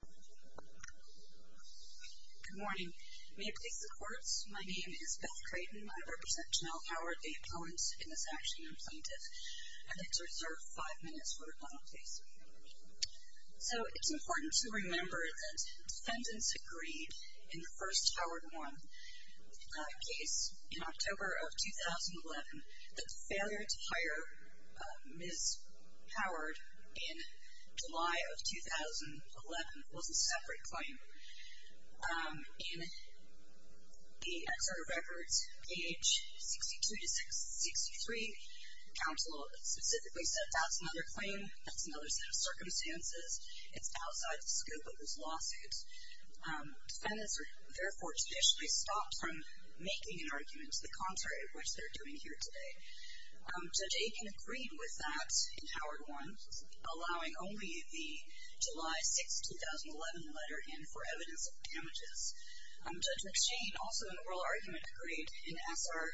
Good morning. May it please the courts, my name is Beth Creighton. I represent Janell Howard, the opponent in this action and plaintiff, and I'd like to reserve five minutes for the final case. So it's important to remember that defendants agreed in the first Howard v. Warren case in October of 2011 that the failure to hire Ms. Howard in July of 2011 was a separate claim. In the exert of records, page 62-63, counsel specifically said that's another claim, that's another set of circumstances, it's outside the scope of this lawsuit. Defendants are therefore traditionally stopped from making an argument, the contrary of which they're doing here today. Judge Aiken agreed with that in Howard v. Warren, allowing only the July 6, 2011 letter in for evidence of damages. Judge McShane, also in oral argument, agreed in S.R.,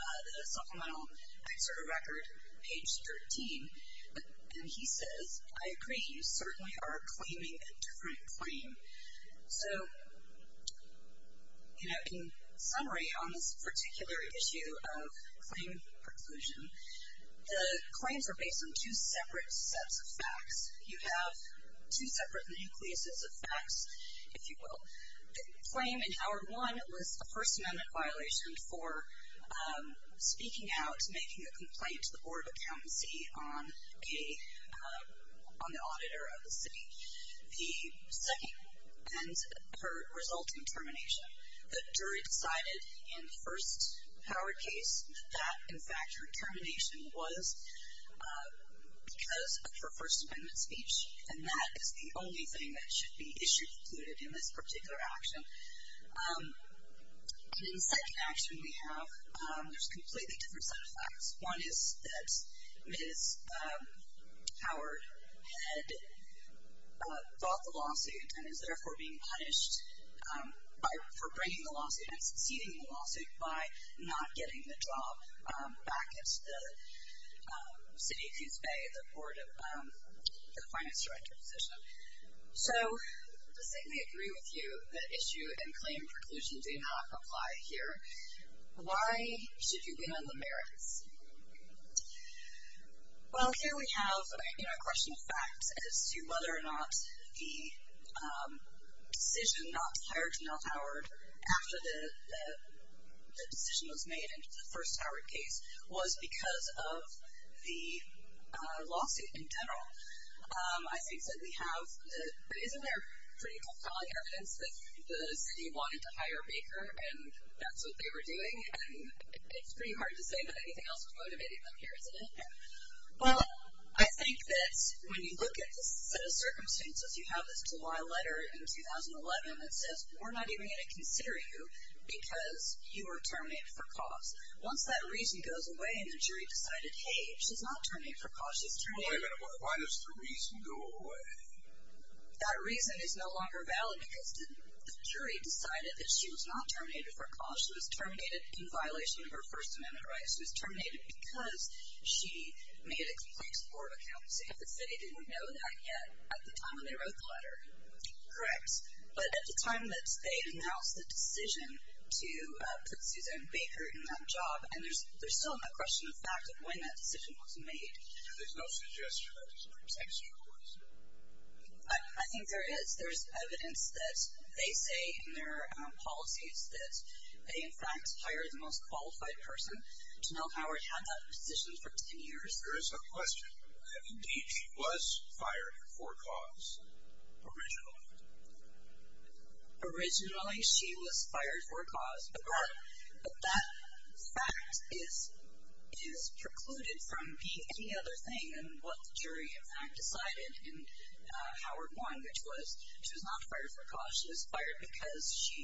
the supplemental exert of record, page 13, and he says, I agree, you certainly are claiming a different claim. So, in summary, on this particular issue of claim preclusion, the claims are based on two separate sets of facts. You have two separate nucleuses of facts, if you will. The claim in Howard v. Warren was a First Amendment violation for speaking out, making a complaint to the Board of Accountancy on the auditor of the city. The second, and her resulting termination. The jury decided in the first Howard case that, in fact, her termination was because of her First Amendment speech, and that is the only thing that should be issued included in this particular action. In the second action we have, there's a completely different set of facts. One is that Ms. Howard had fought the lawsuit and is therefore being punished for bringing the lawsuit and succeeding in the lawsuit by not getting the job back at the City of Queens Bay, the Board of Finance Director position. So, to say we agree with you that issue and claim preclusion do not apply here, why should you ban the merits? Well, here we have a question of facts as to whether or not the decision not to hire Janelle Howard after the decision was made in the first Howard case was because of the lawsuit in general. Isn't there pretty compelling evidence that the city wanted to hire Baker and that's what they were doing, and it's pretty hard to say that anything else was motivating them here, isn't it? Well, I think that when you look at the set of circumstances, you have this July letter in 2011 that says, we're not even going to consider you because you were terminated for cause. Once that reason goes away and the jury decided, hey, she's not terminated for cause, she's terminated. Wait a minute, why does the reason go away? That reason is no longer valid because the jury decided that she was not terminated for cause. She was terminated in violation of her First Amendment rights. She was terminated because she made a complex Board of Accountancy. The city didn't know that yet at the time when they wrote the letter. Correct. But at the time that they announced the decision to put Suzanne Baker in that job, and there's still no question of fact of when that decision was made. There's no suggestion that that decision was made. I think there is. There's evidence that they say in their policies that they, in fact, hired the most qualified person. Janelle Howard had that position for 10 years. There is a question about that. Indeed, she was fired for cause originally. Originally, she was fired for cause. But that fact is precluded from being any other thing than what the jury, in fact, decided in Howard 1, which was she was not fired for cause. She was fired because she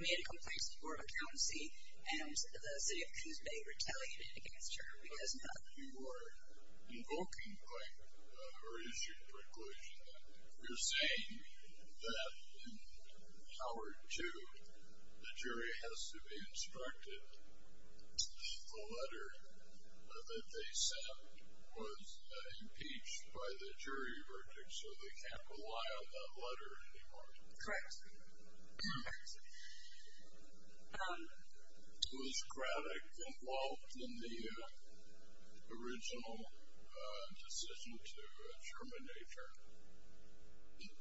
made a complex Board of Accountancy, and the city of Coos Bay retaliated against her because of that. If you were invoking her issue preclusion, you're saying that in Howard 2, the jury has to be instructed the letter that they sent was impeached by the jury verdict, so they can't rely on that letter anymore. Correct. Yes. Was Craddock involved in the original decision to terminate her?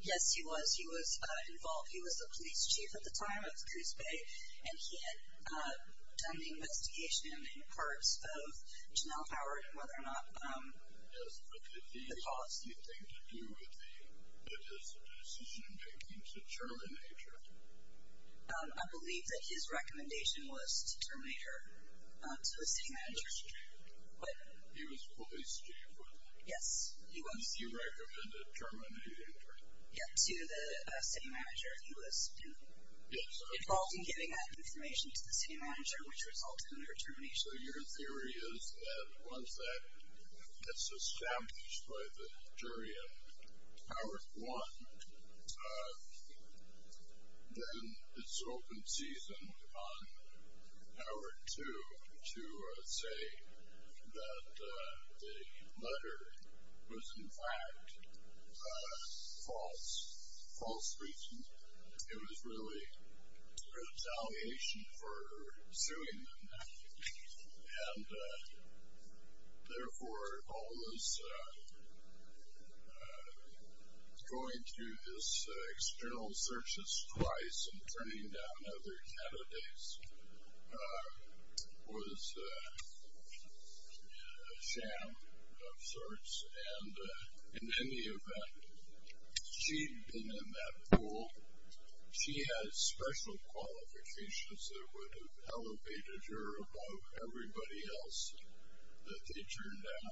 Yes, he was. He was involved. He was the police chief at the time of Coos Bay, and he had done the investigation in parts of Janelle Howard and whether or not the policy. Did he have anything to do with his decision-making to terminate her? I believe that his recommendation was to terminate her to the city manager. He was the police chief. Yes, he was. He recommended terminating her. Yes, to the city manager. He was involved in giving that information to the city manager, which resulted in her termination. So your theory is that once that gets established by the jury in Howard 1, then it's open season on Howard 2 to say that the letter was, in fact, false. False reason. It was really retaliation for suing them, and therefore all this going through this external searches twice and turning down other candidates was a sham of sorts. And in any event, she had been in that pool. She had special qualifications that would have elevated her above everybody else that they turned down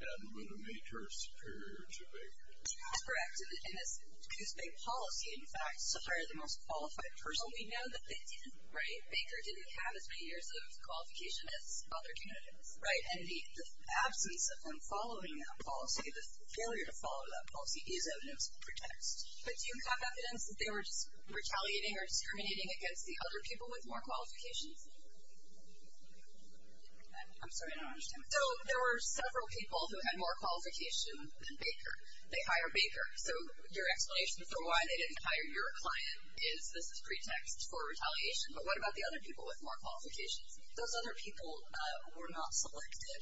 and would have made her superior to Baker. That's correct. And as Coos Bay policy, in fact, some are the most qualified person we know that they did, right? Baker didn't have as many years of qualification as other candidates, right? And the absence of them following that policy, the failure to follow that policy is evidence of pretext. But do you have evidence that they were just retaliating or discriminating against the other people with more qualifications? I'm sorry, I don't understand. So there were several people who had more qualification than Baker. They hire Baker. So your explanation for why they didn't hire your client is this is pretext for retaliation, but what about the other people with more qualifications? Those other people were not selected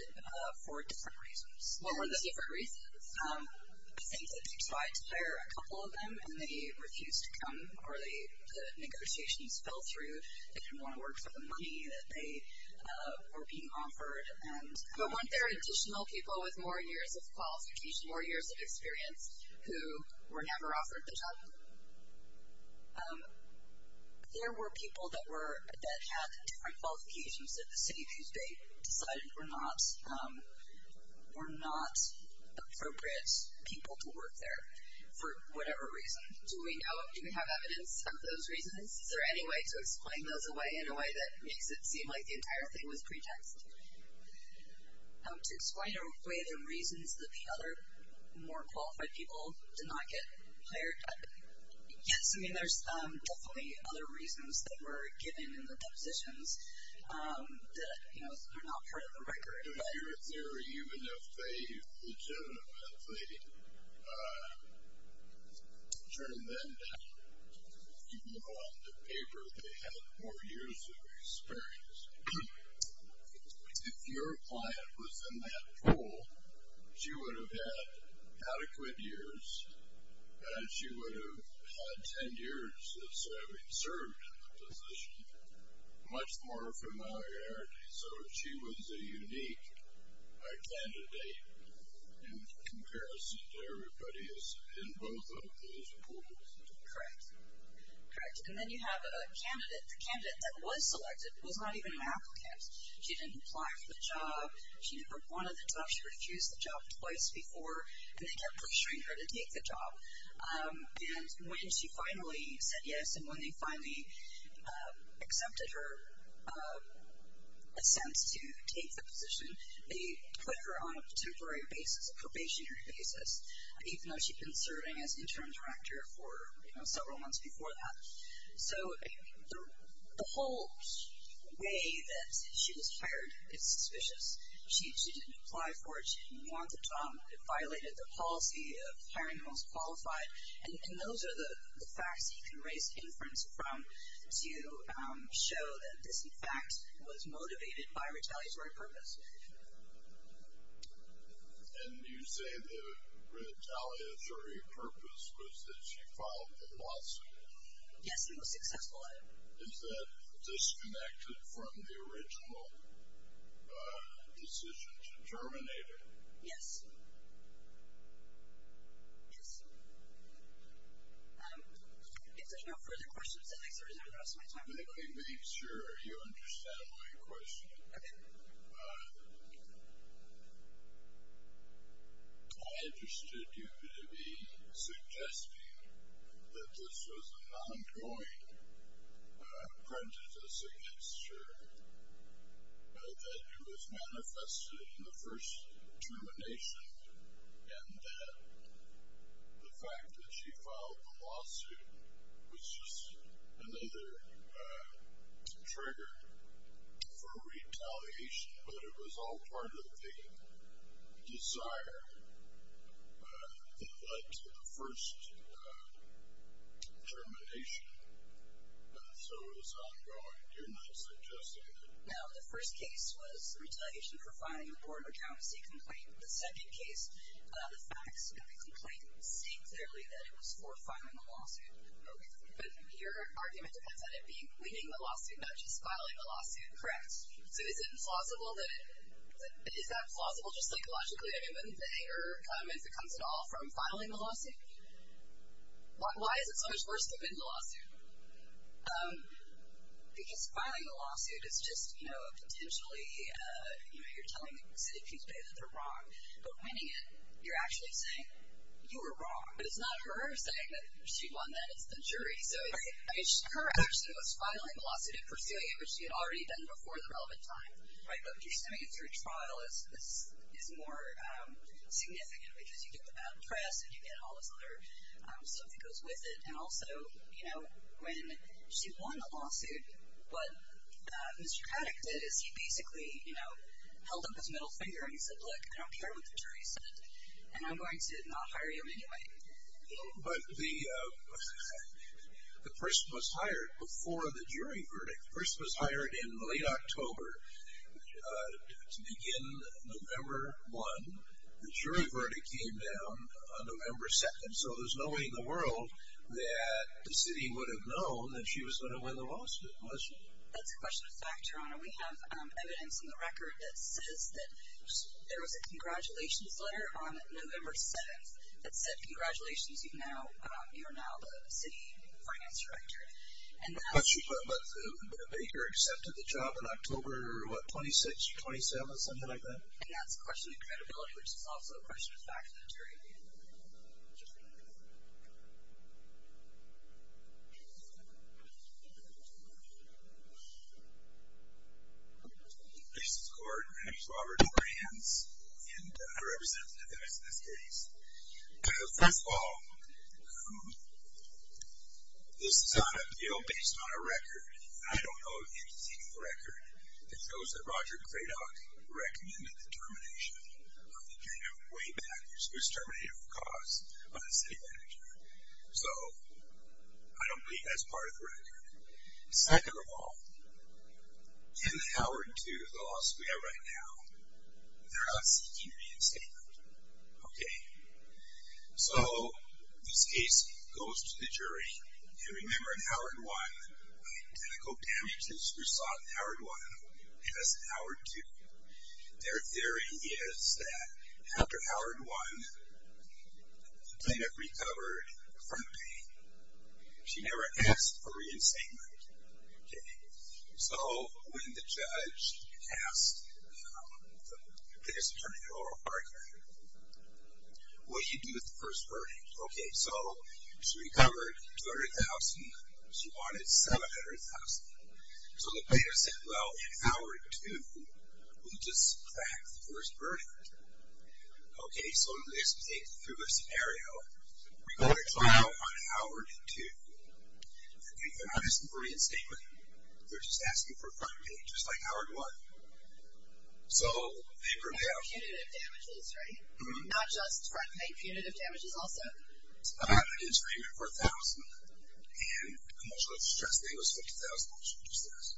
for different reasons. What were the different reasons? I think that they tried to hire a couple of them, and they refused to come, or the negotiations fell through. They didn't want to work for the money that they were being offered. But weren't there additional people with more years of qualification, more years of experience, who were never offered the job? There were people that had different qualifications that the city of Houston decided were not appropriate people to work there for whatever reason. Do we have evidence of those reasons? Is there any way to explain those away in a way that makes it seem like the entire thing was pretext? To explain away the reasons that the other more qualified people did not get hired? Yes. I mean, there's definitely other reasons that were given in the depositions that, you know, are not part of the record. Even if they legitimately turned them down, even though on the paper they had more years of experience, if your client was in that pool, she would have had adequate years, and she would have had ten years of serving, served in the position, much more familiarity. So she was a unique candidate in comparison to everybody in both of those pools. Correct. Correct. And then you have a candidate, the candidate that was selected was not even an applicant. She didn't apply for the job. She never wanted the job. She refused the job twice before, and they kept pressuring her to take the job. And when she finally said yes, and when they finally accepted her assent to take the position, they put her on a temporary basis, a probationary basis, even though she'd been serving as interim director for, you know, several months before that. So the whole way that she was hired is suspicious. She didn't apply for it. She didn't want the job. It violated the policy of hiring the most qualified. And those are the facts that you can raise inference from to show that this, in fact, was motivated by retaliatory purpose. And you say the retaliatory purpose was that she filed the lawsuit? Yes, it was successful. Is that disconnected from the original decision to terminate her? Yes. Yes. If there are no further questions, I'd like to reserve the rest of my time for the public. Let me make sure you understand my question. Okay. I understood you to be suggesting that this was an ongoing prejudice against her, that it was manifested in the first termination, and that the fact that she filed the lawsuit was just another trigger for retaliation, but it was all part of the desire that led to the first termination. So it was ongoing. You're not suggesting that? No. The first case was retaliation for filing a board of accountancy complaint. The second case, the facts of the complaint state clearly that it was for filing a lawsuit. Okay. But your argument depends on it being pleading the lawsuit, not just filing a lawsuit, correct? Yes. So is it implausible that it – is that plausible just psychologically? I mean, wouldn't the anger come if it comes at all from filing the lawsuit? Why is it so much worse to plead the lawsuit? Because filing a lawsuit is just, you know, potentially you're telling the city of Kings Bay that they're wrong, but when you're actually saying you were wrong. But it's not her saying that she won that. It's the jury. So her action was filing the lawsuit and pursuing it, which she had already done before the relevant time. Right? But pursuing it through trial is more significant because you get the bad press and you get all this other stuff that goes with it. And also, you know, when she won the lawsuit, what Mr. Paddock did is he basically, you know, held up his middle finger and he said, look, I don't care what the jury said, and I'm going to not hire you anyway. But the person was hired before the jury verdict. The person was hired in late October to begin November 1. The jury verdict came down on November 2. So there's no way in the world that the city would have known that she was going to win the lawsuit, was she? That's a question of fact, Your Honor. We have evidence in the record that says that there was a congratulations letter on November 7 that said congratulations, you're now the city finance director. But Baker accepted the job in October, what, 26, 27, something like that? Yeah, it's a question of credibility, which is also a question of fact. My name is Gordon. My name is Robert Hans. And I represent the defense in this case. First of all, this is on a bill based on a record, and I don't know of anything in the record that shows that Roger Cradock recommended the termination of the jury of Wade Packers, who was terminated for cause by the city manager. So I don't believe that's part of the record. Second of all, in the Howard 2, the lawsuit we have right now, they're not seeking reinstatement. Okay. So this case goes to the jury. And remember in Howard 1, identical damages were sought in Howard 1 as in Howard 2. Their theory is that after Howard 1, the plaintiff recovered from the pain. She never asked for reinstatement. Okay. So when the judge asked the plaintiff's attorney, Laurel Parker, what did you do with the first verdict? Okay. So she recovered $200,000. She wanted $700,000. So the plaintiff said, well, in Howard 2, we just cracked the first verdict. Okay. So let's take through the scenario. We go to trial on Howard 2. They're not asking for reinstatement. They're just asking for a front pay, just like Howard 1. So they bring out. Punitive damages, right? Not just front pay, punitive damages also? I'm having an insurreignment for $1,000, and emotional distress pay was $50,000, she just asked.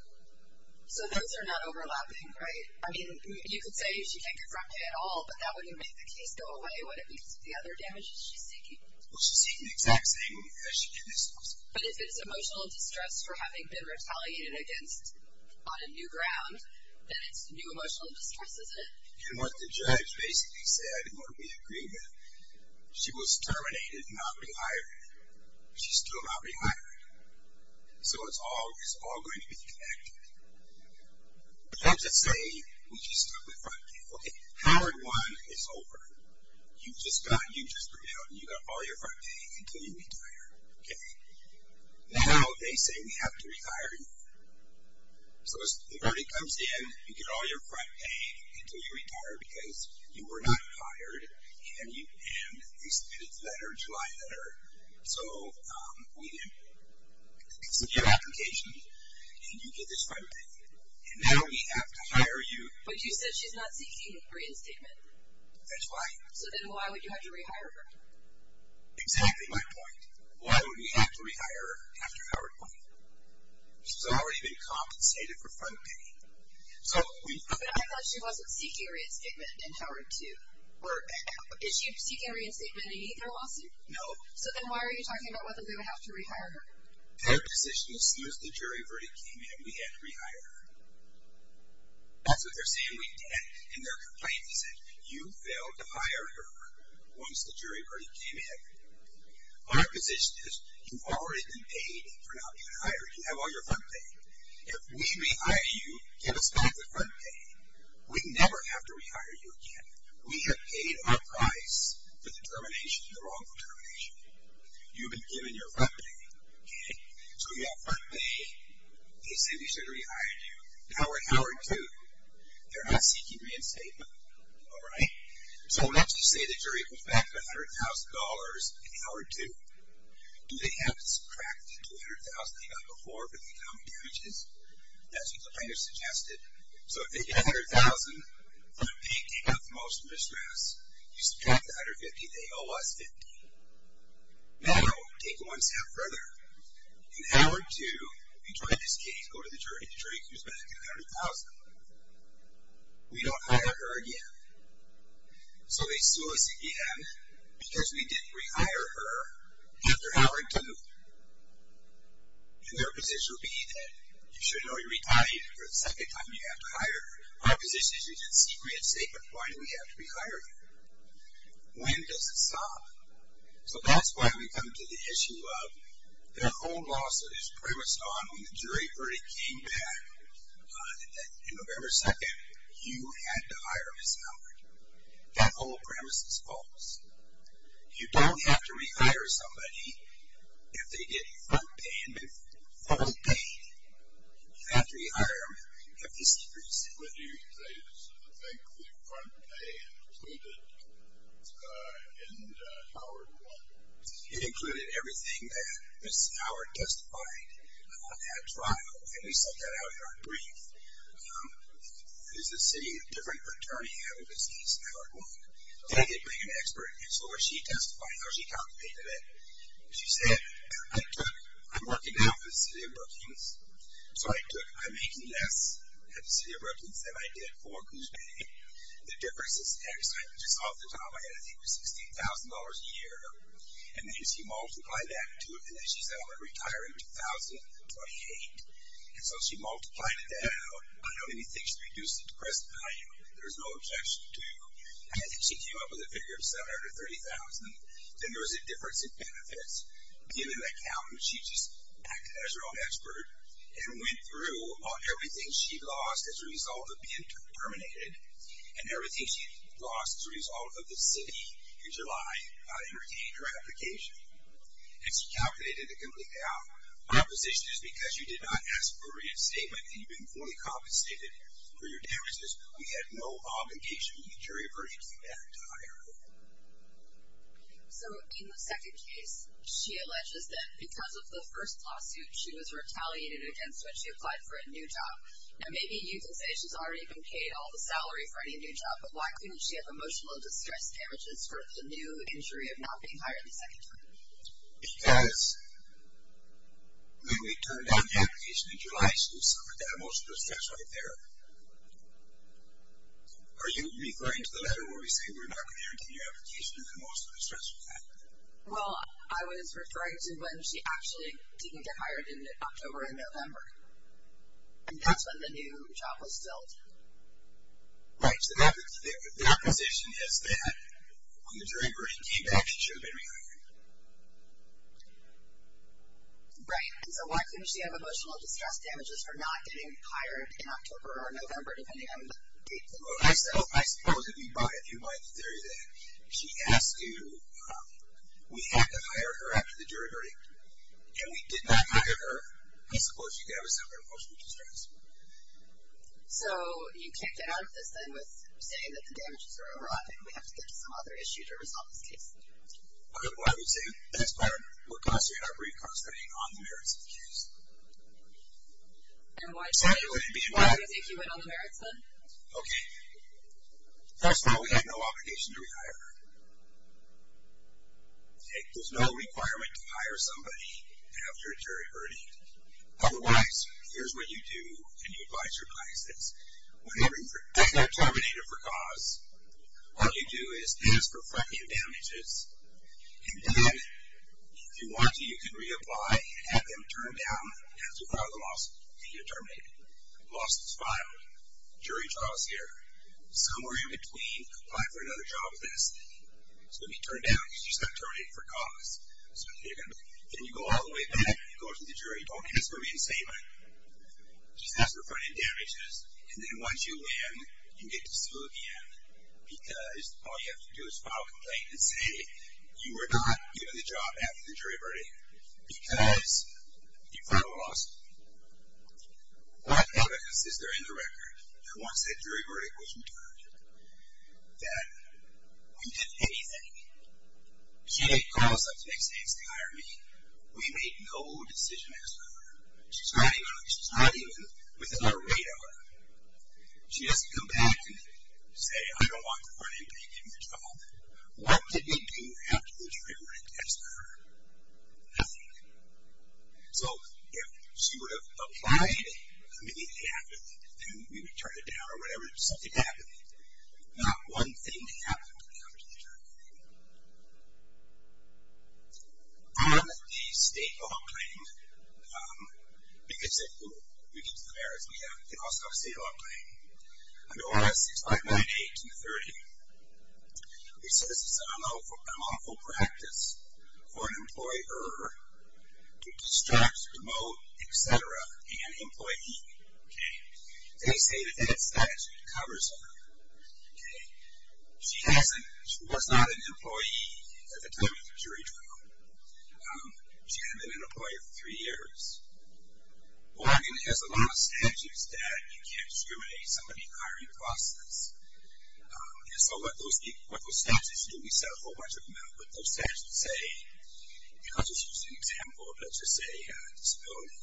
So those are not overlapping, right? I mean, you could say she can't get front pay at all, but that wouldn't make the case go away. What if it's the other damages she's seeking? Well, she's seeking the exact same as she did in this case. But if it's emotional distress for having been retaliated against on a new ground, then it's new emotional distress, isn't it? And what the judge basically said, and what we agreed with, she was terminated, not rehired. She's still not rehired. So it's all going to be connected. Let's just say we just took the front pay. Okay. Howard 1 is over. You just grew out, and you got all your front pay until you retire. Okay. Now they say we have to rehire you. So the verdict comes in, you get all your front pay until you retire because you were not hired, and they submitted the letter, July letter. So we didn't accept your application, and you get this front pay. And now we have to hire you. But you said she's not seeking a reinstatement. That's right. So then why would you have to rehire her? Exactly my point. Why would we have to rehire her after Howard 1? She's already been compensated for front pay. But I thought she wasn't seeking a reinstatement in Howard 2. Is she seeking a reinstatement in either lawsuit? No. So then why are you talking about whether we would have to rehire her? Their position is as soon as the jury verdict came in, we had to rehire her. That's what they're saying we did in their complaint. They said you failed to hire her once the jury verdict came in. Our position is you've already been paid for not being hired. You have all your front pay. If we rehire you, give us back the front pay. We never have to rehire you again. We have paid our price for the termination, the wrongful termination. You've been given your front pay. Okay. So you have front pay. They say we should rehire you. Now we're at Howard 2. They're not seeking reinstatement. All right? So let's just say the jury goes back to $100,000 in Howard 2. Do they have to subtract the $200,000 they got before for the common damages? That's what the plaintiff suggested. So if they get $100,000, front pay came out the most in distress. You subtract the $150,000, they owe us $50,000. Now, take it one step further. In Howard 2, the plaintiff's case, go to the jury. The jury comes back at $100,000. We don't hire her again. So they sue us again because we didn't rehire her after Howard 2. And their position would be that you should know you're retired for the second time you have to hire her. Our position is you didn't seek reinstatement. Why do we have to rehire you? When does it stop? So that's why we come to the issue of their whole lawsuit is premised on when the jury verdict came back in November 2, you had to hire Ms. Howard. That whole premise is false. You don't have to rehire somebody if they get front pay. You have to rehire them if the secret is sealed. What do you think the front pay included in Howard 1? It included everything that Ms. Howard testified on that trial, and we sent that out in our brief. There's a city of different attorney handled this case in Howard 1. They didn't bring an expert. So was she testifying or was she contemplating it? She said, I'm working now for the city of Brookings, so I'm making less at the city of Brookings than I did for Goose Bay. The difference is, at the time, I had I think $16,000 a year, and then she multiplied that, too, and then she said I'm going to retire in 2028. So she multiplied it down. I don't even think she reduced it to present value. There's no objection to. I think she came up with a figure of $730,000. Then there was a difference in benefits. Given that count, she just acted as her own expert and went through everything she'd lost as a result of being terminated and everything she'd lost as a result of the city, in July, and retained her application. And she calculated it completely out. My position is because you did not ask for a reinstatement and you've been fully compensated for your damages, we had no obligation to deliver anything back to Howard. So in the second case, she alleges that because of the first lawsuit, she was retaliated against when she applied for a new job. Now maybe you can say she's already been paid all the salary for any new job, but why couldn't she have emotional distress damages for the new injury of not being hired the second time? Because when we turned down the application in July, she suffered that emotional distress right there. Are you referring to the letter where we say we're not going to guarantee your application for emotional distress? Well, I was referring to when she actually didn't get hired in October and November. And that's when the new job was filled. Right. So their position is that when the jury verdict came back, she should have been rehired. Right. And so why couldn't she have emotional distress damages for not getting hired in October or November, depending on the date? Well, I suppose if you buy into the theory that she asked you, we had to hire her after the jury verdict, and we did not hire her, I suppose she could have suffered emotional distress. So you can't get out of this, then, with saying that the damages are overlapping and we have to get to some other issue to resolve this case. Well, I would say that's part of what caused her to have recourse to being on the merits of the case. And why do you think she went on the merits, then? Okay. First of all, we had no obligation to rehire her. There's no requirement to hire somebody after a jury verdict. Otherwise, here's what you do when you advise your clients. When they're terminated for cause, all you do is ask for front-end damages, and then, if you want to, you can reapply, have them turned down after you file the lawsuit, and you're terminated. The lawsuit's filed. The jury trial's here. Somewhere in between, apply for another job with this. It's going to be turned down because you just got terminated for cause. Then you go all the way back, and you go to the jury. Don't get this movie and save it. Just ask for front-end damages, and then once you win, you can get this movie in because all you have to do is file a complaint and say you were not given the job after the jury verdict because you filed a lawsuit. What evidence is there in the record that once that jury verdict was returned that we did anything? She didn't call us up the next day to say hire me. We made no decision as to her. She's not even within our radar. She doesn't come back and say, I don't want the front-end paying me for the job. What did we do after the jury verdict as to her? Nothing. So if she would have applied immediately after, then we would turn it down or whatever. Something happened. Not one thing happened after the jury verdict. On the state law claim, because if we get to the merits, we also have a state law claim under ORS 6598 and 30. It says it's an unlawful practice for an employer to distract, promote, et cetera, an employee. They say that that statute covers her. She was not an employee at the time of the jury trial. She hadn't been an employer for three years. Oregon has a lot of statutes that you can't discriminate somebody hiring across this. And so what those statutes do, we set a whole bunch of them out, but those statutes say, and I'll just use an example, let's just say disability,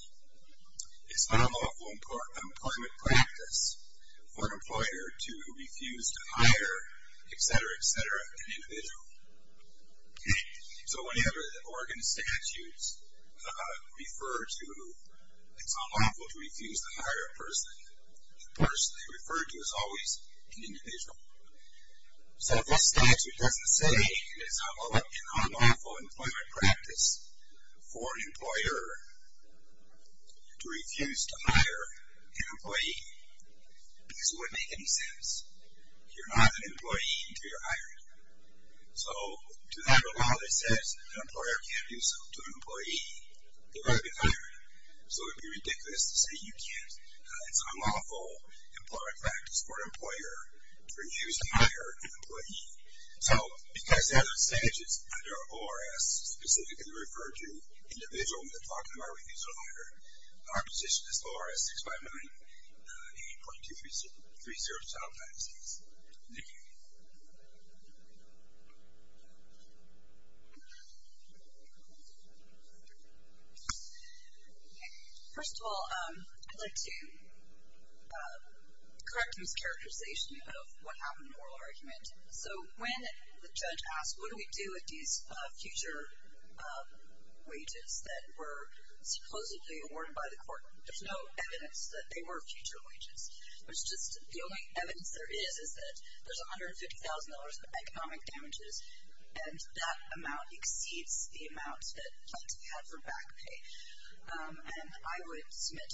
it's an unlawful employment practice for an employer to refuse to hire, et cetera, et cetera, an individual. So whenever the Oregon statutes refer to it's unlawful to refuse to hire a person, the person they refer to is always an individual. So if that statute doesn't say it's an unlawful employment practice for an employer to refuse to hire an employee, this wouldn't make any sense. You're not an employee until you're hired. So to that law that says an employer can't do so to an employee, they'd rather be hired. So it would be ridiculous to say you can't, it's unlawful employment practice for an employer to refuse to hire an employee. So because the other statutes under ORS specifically refer to individuals that talk about refusing to hire, our position is ORS 659.8.2307-6. Nikki. First of all, I'd like to correct a mischaracterization of what happened in the oral argument. So when the judge asked what do we do with these future wages that were supposedly awarded by the court, there's no evidence that they were future wages. It's just the only evidence there is, is that there's $150,000 in economic damages, and that amount exceeds the amount that had to be had for back pay. And I would submit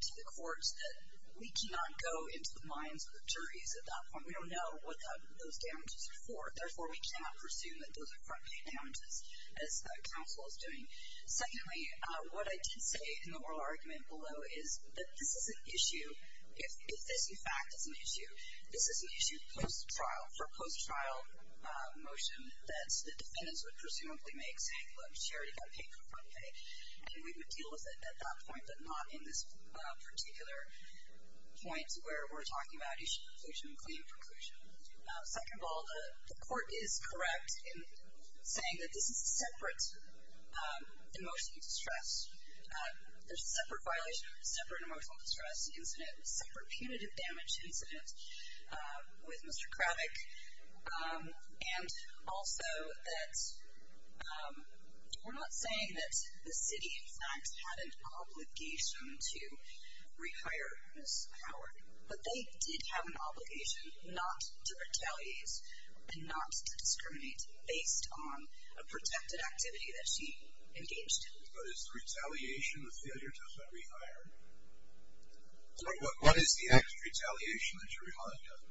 to the courts that we cannot go into the minds of the defendants who know what those damages are for. Therefore, we cannot presume that those are front pay damages, as the counsel is doing. Secondly, what I did say in the oral argument below is that this is an issue, if this, in fact, is an issue, this is an issue post-trial, for a post-trial motion that the defendants would presumably make, saying, look, she already got paid for front pay, and we would deal with it at that point, but not in this particular point where we're talking about issue preclusion and claim preclusion. Second of all, the court is correct in saying that this is a separate emotional distress. There's a separate violation, separate emotional distress incident, separate punitive damage incident with Mr. Kravic, and also that we're not saying that the city, in fact, had an obligation to rehire Ms. Howard, but they did have an obligation not to retaliate and not to discriminate based on a protected activity that she engaged in. But is retaliation a failure to rehire? What is the act of retaliation that you're reminding us of?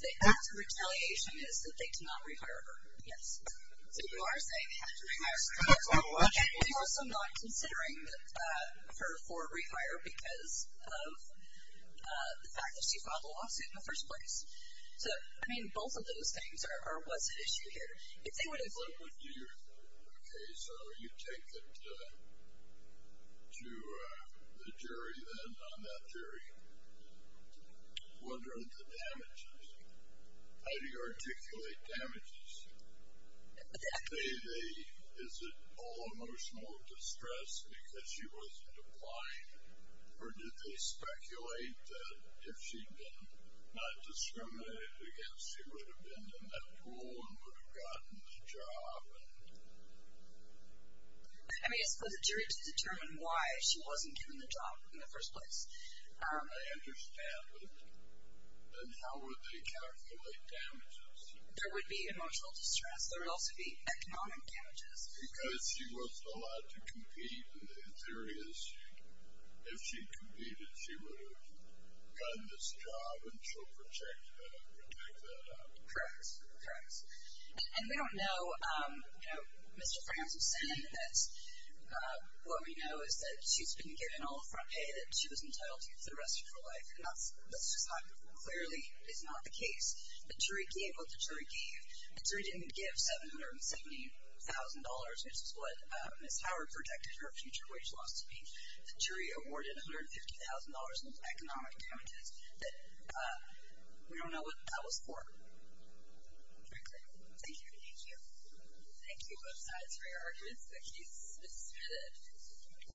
The act of retaliation is that they cannot rehire her, yes. So you are saying they have to rehire Ms. Howard. They're also not considering her for rehire because of the fact that she filed a lawsuit in the first place. So, I mean, both of those things are what's at issue here. If they would have ---- Okay, so you take it to the jury then on that jury. What are the damages? How do you articulate damages? Is it all emotional distress because she wasn't applying, or did they speculate that if she had been not discriminated against, she would have been in that pool and would have gotten the job? I mean, it's for the jury to determine why she wasn't given the job in the first place. I understand, but then how would they calculate damages? There would be emotional distress. There would also be economic damages. Because she wasn't allowed to compete, and the theory is if she competed she would have gotten this job, and she'll protect that out. Correct, correct. And we don't know, you know, Mr. Franssen, that what we know is that she's been given all the front pay, that she was entitled to for the rest of her life, and that clearly is not the case. The jury gave what the jury gave. The jury didn't give $770,000, which is what Ms. Howard projected her future wage loss to be. The jury awarded $150,000 in economic damages. We don't know what that was for. Very clear. Thank you. Thank you. Thank you both sides for your arguments. The case is submitted.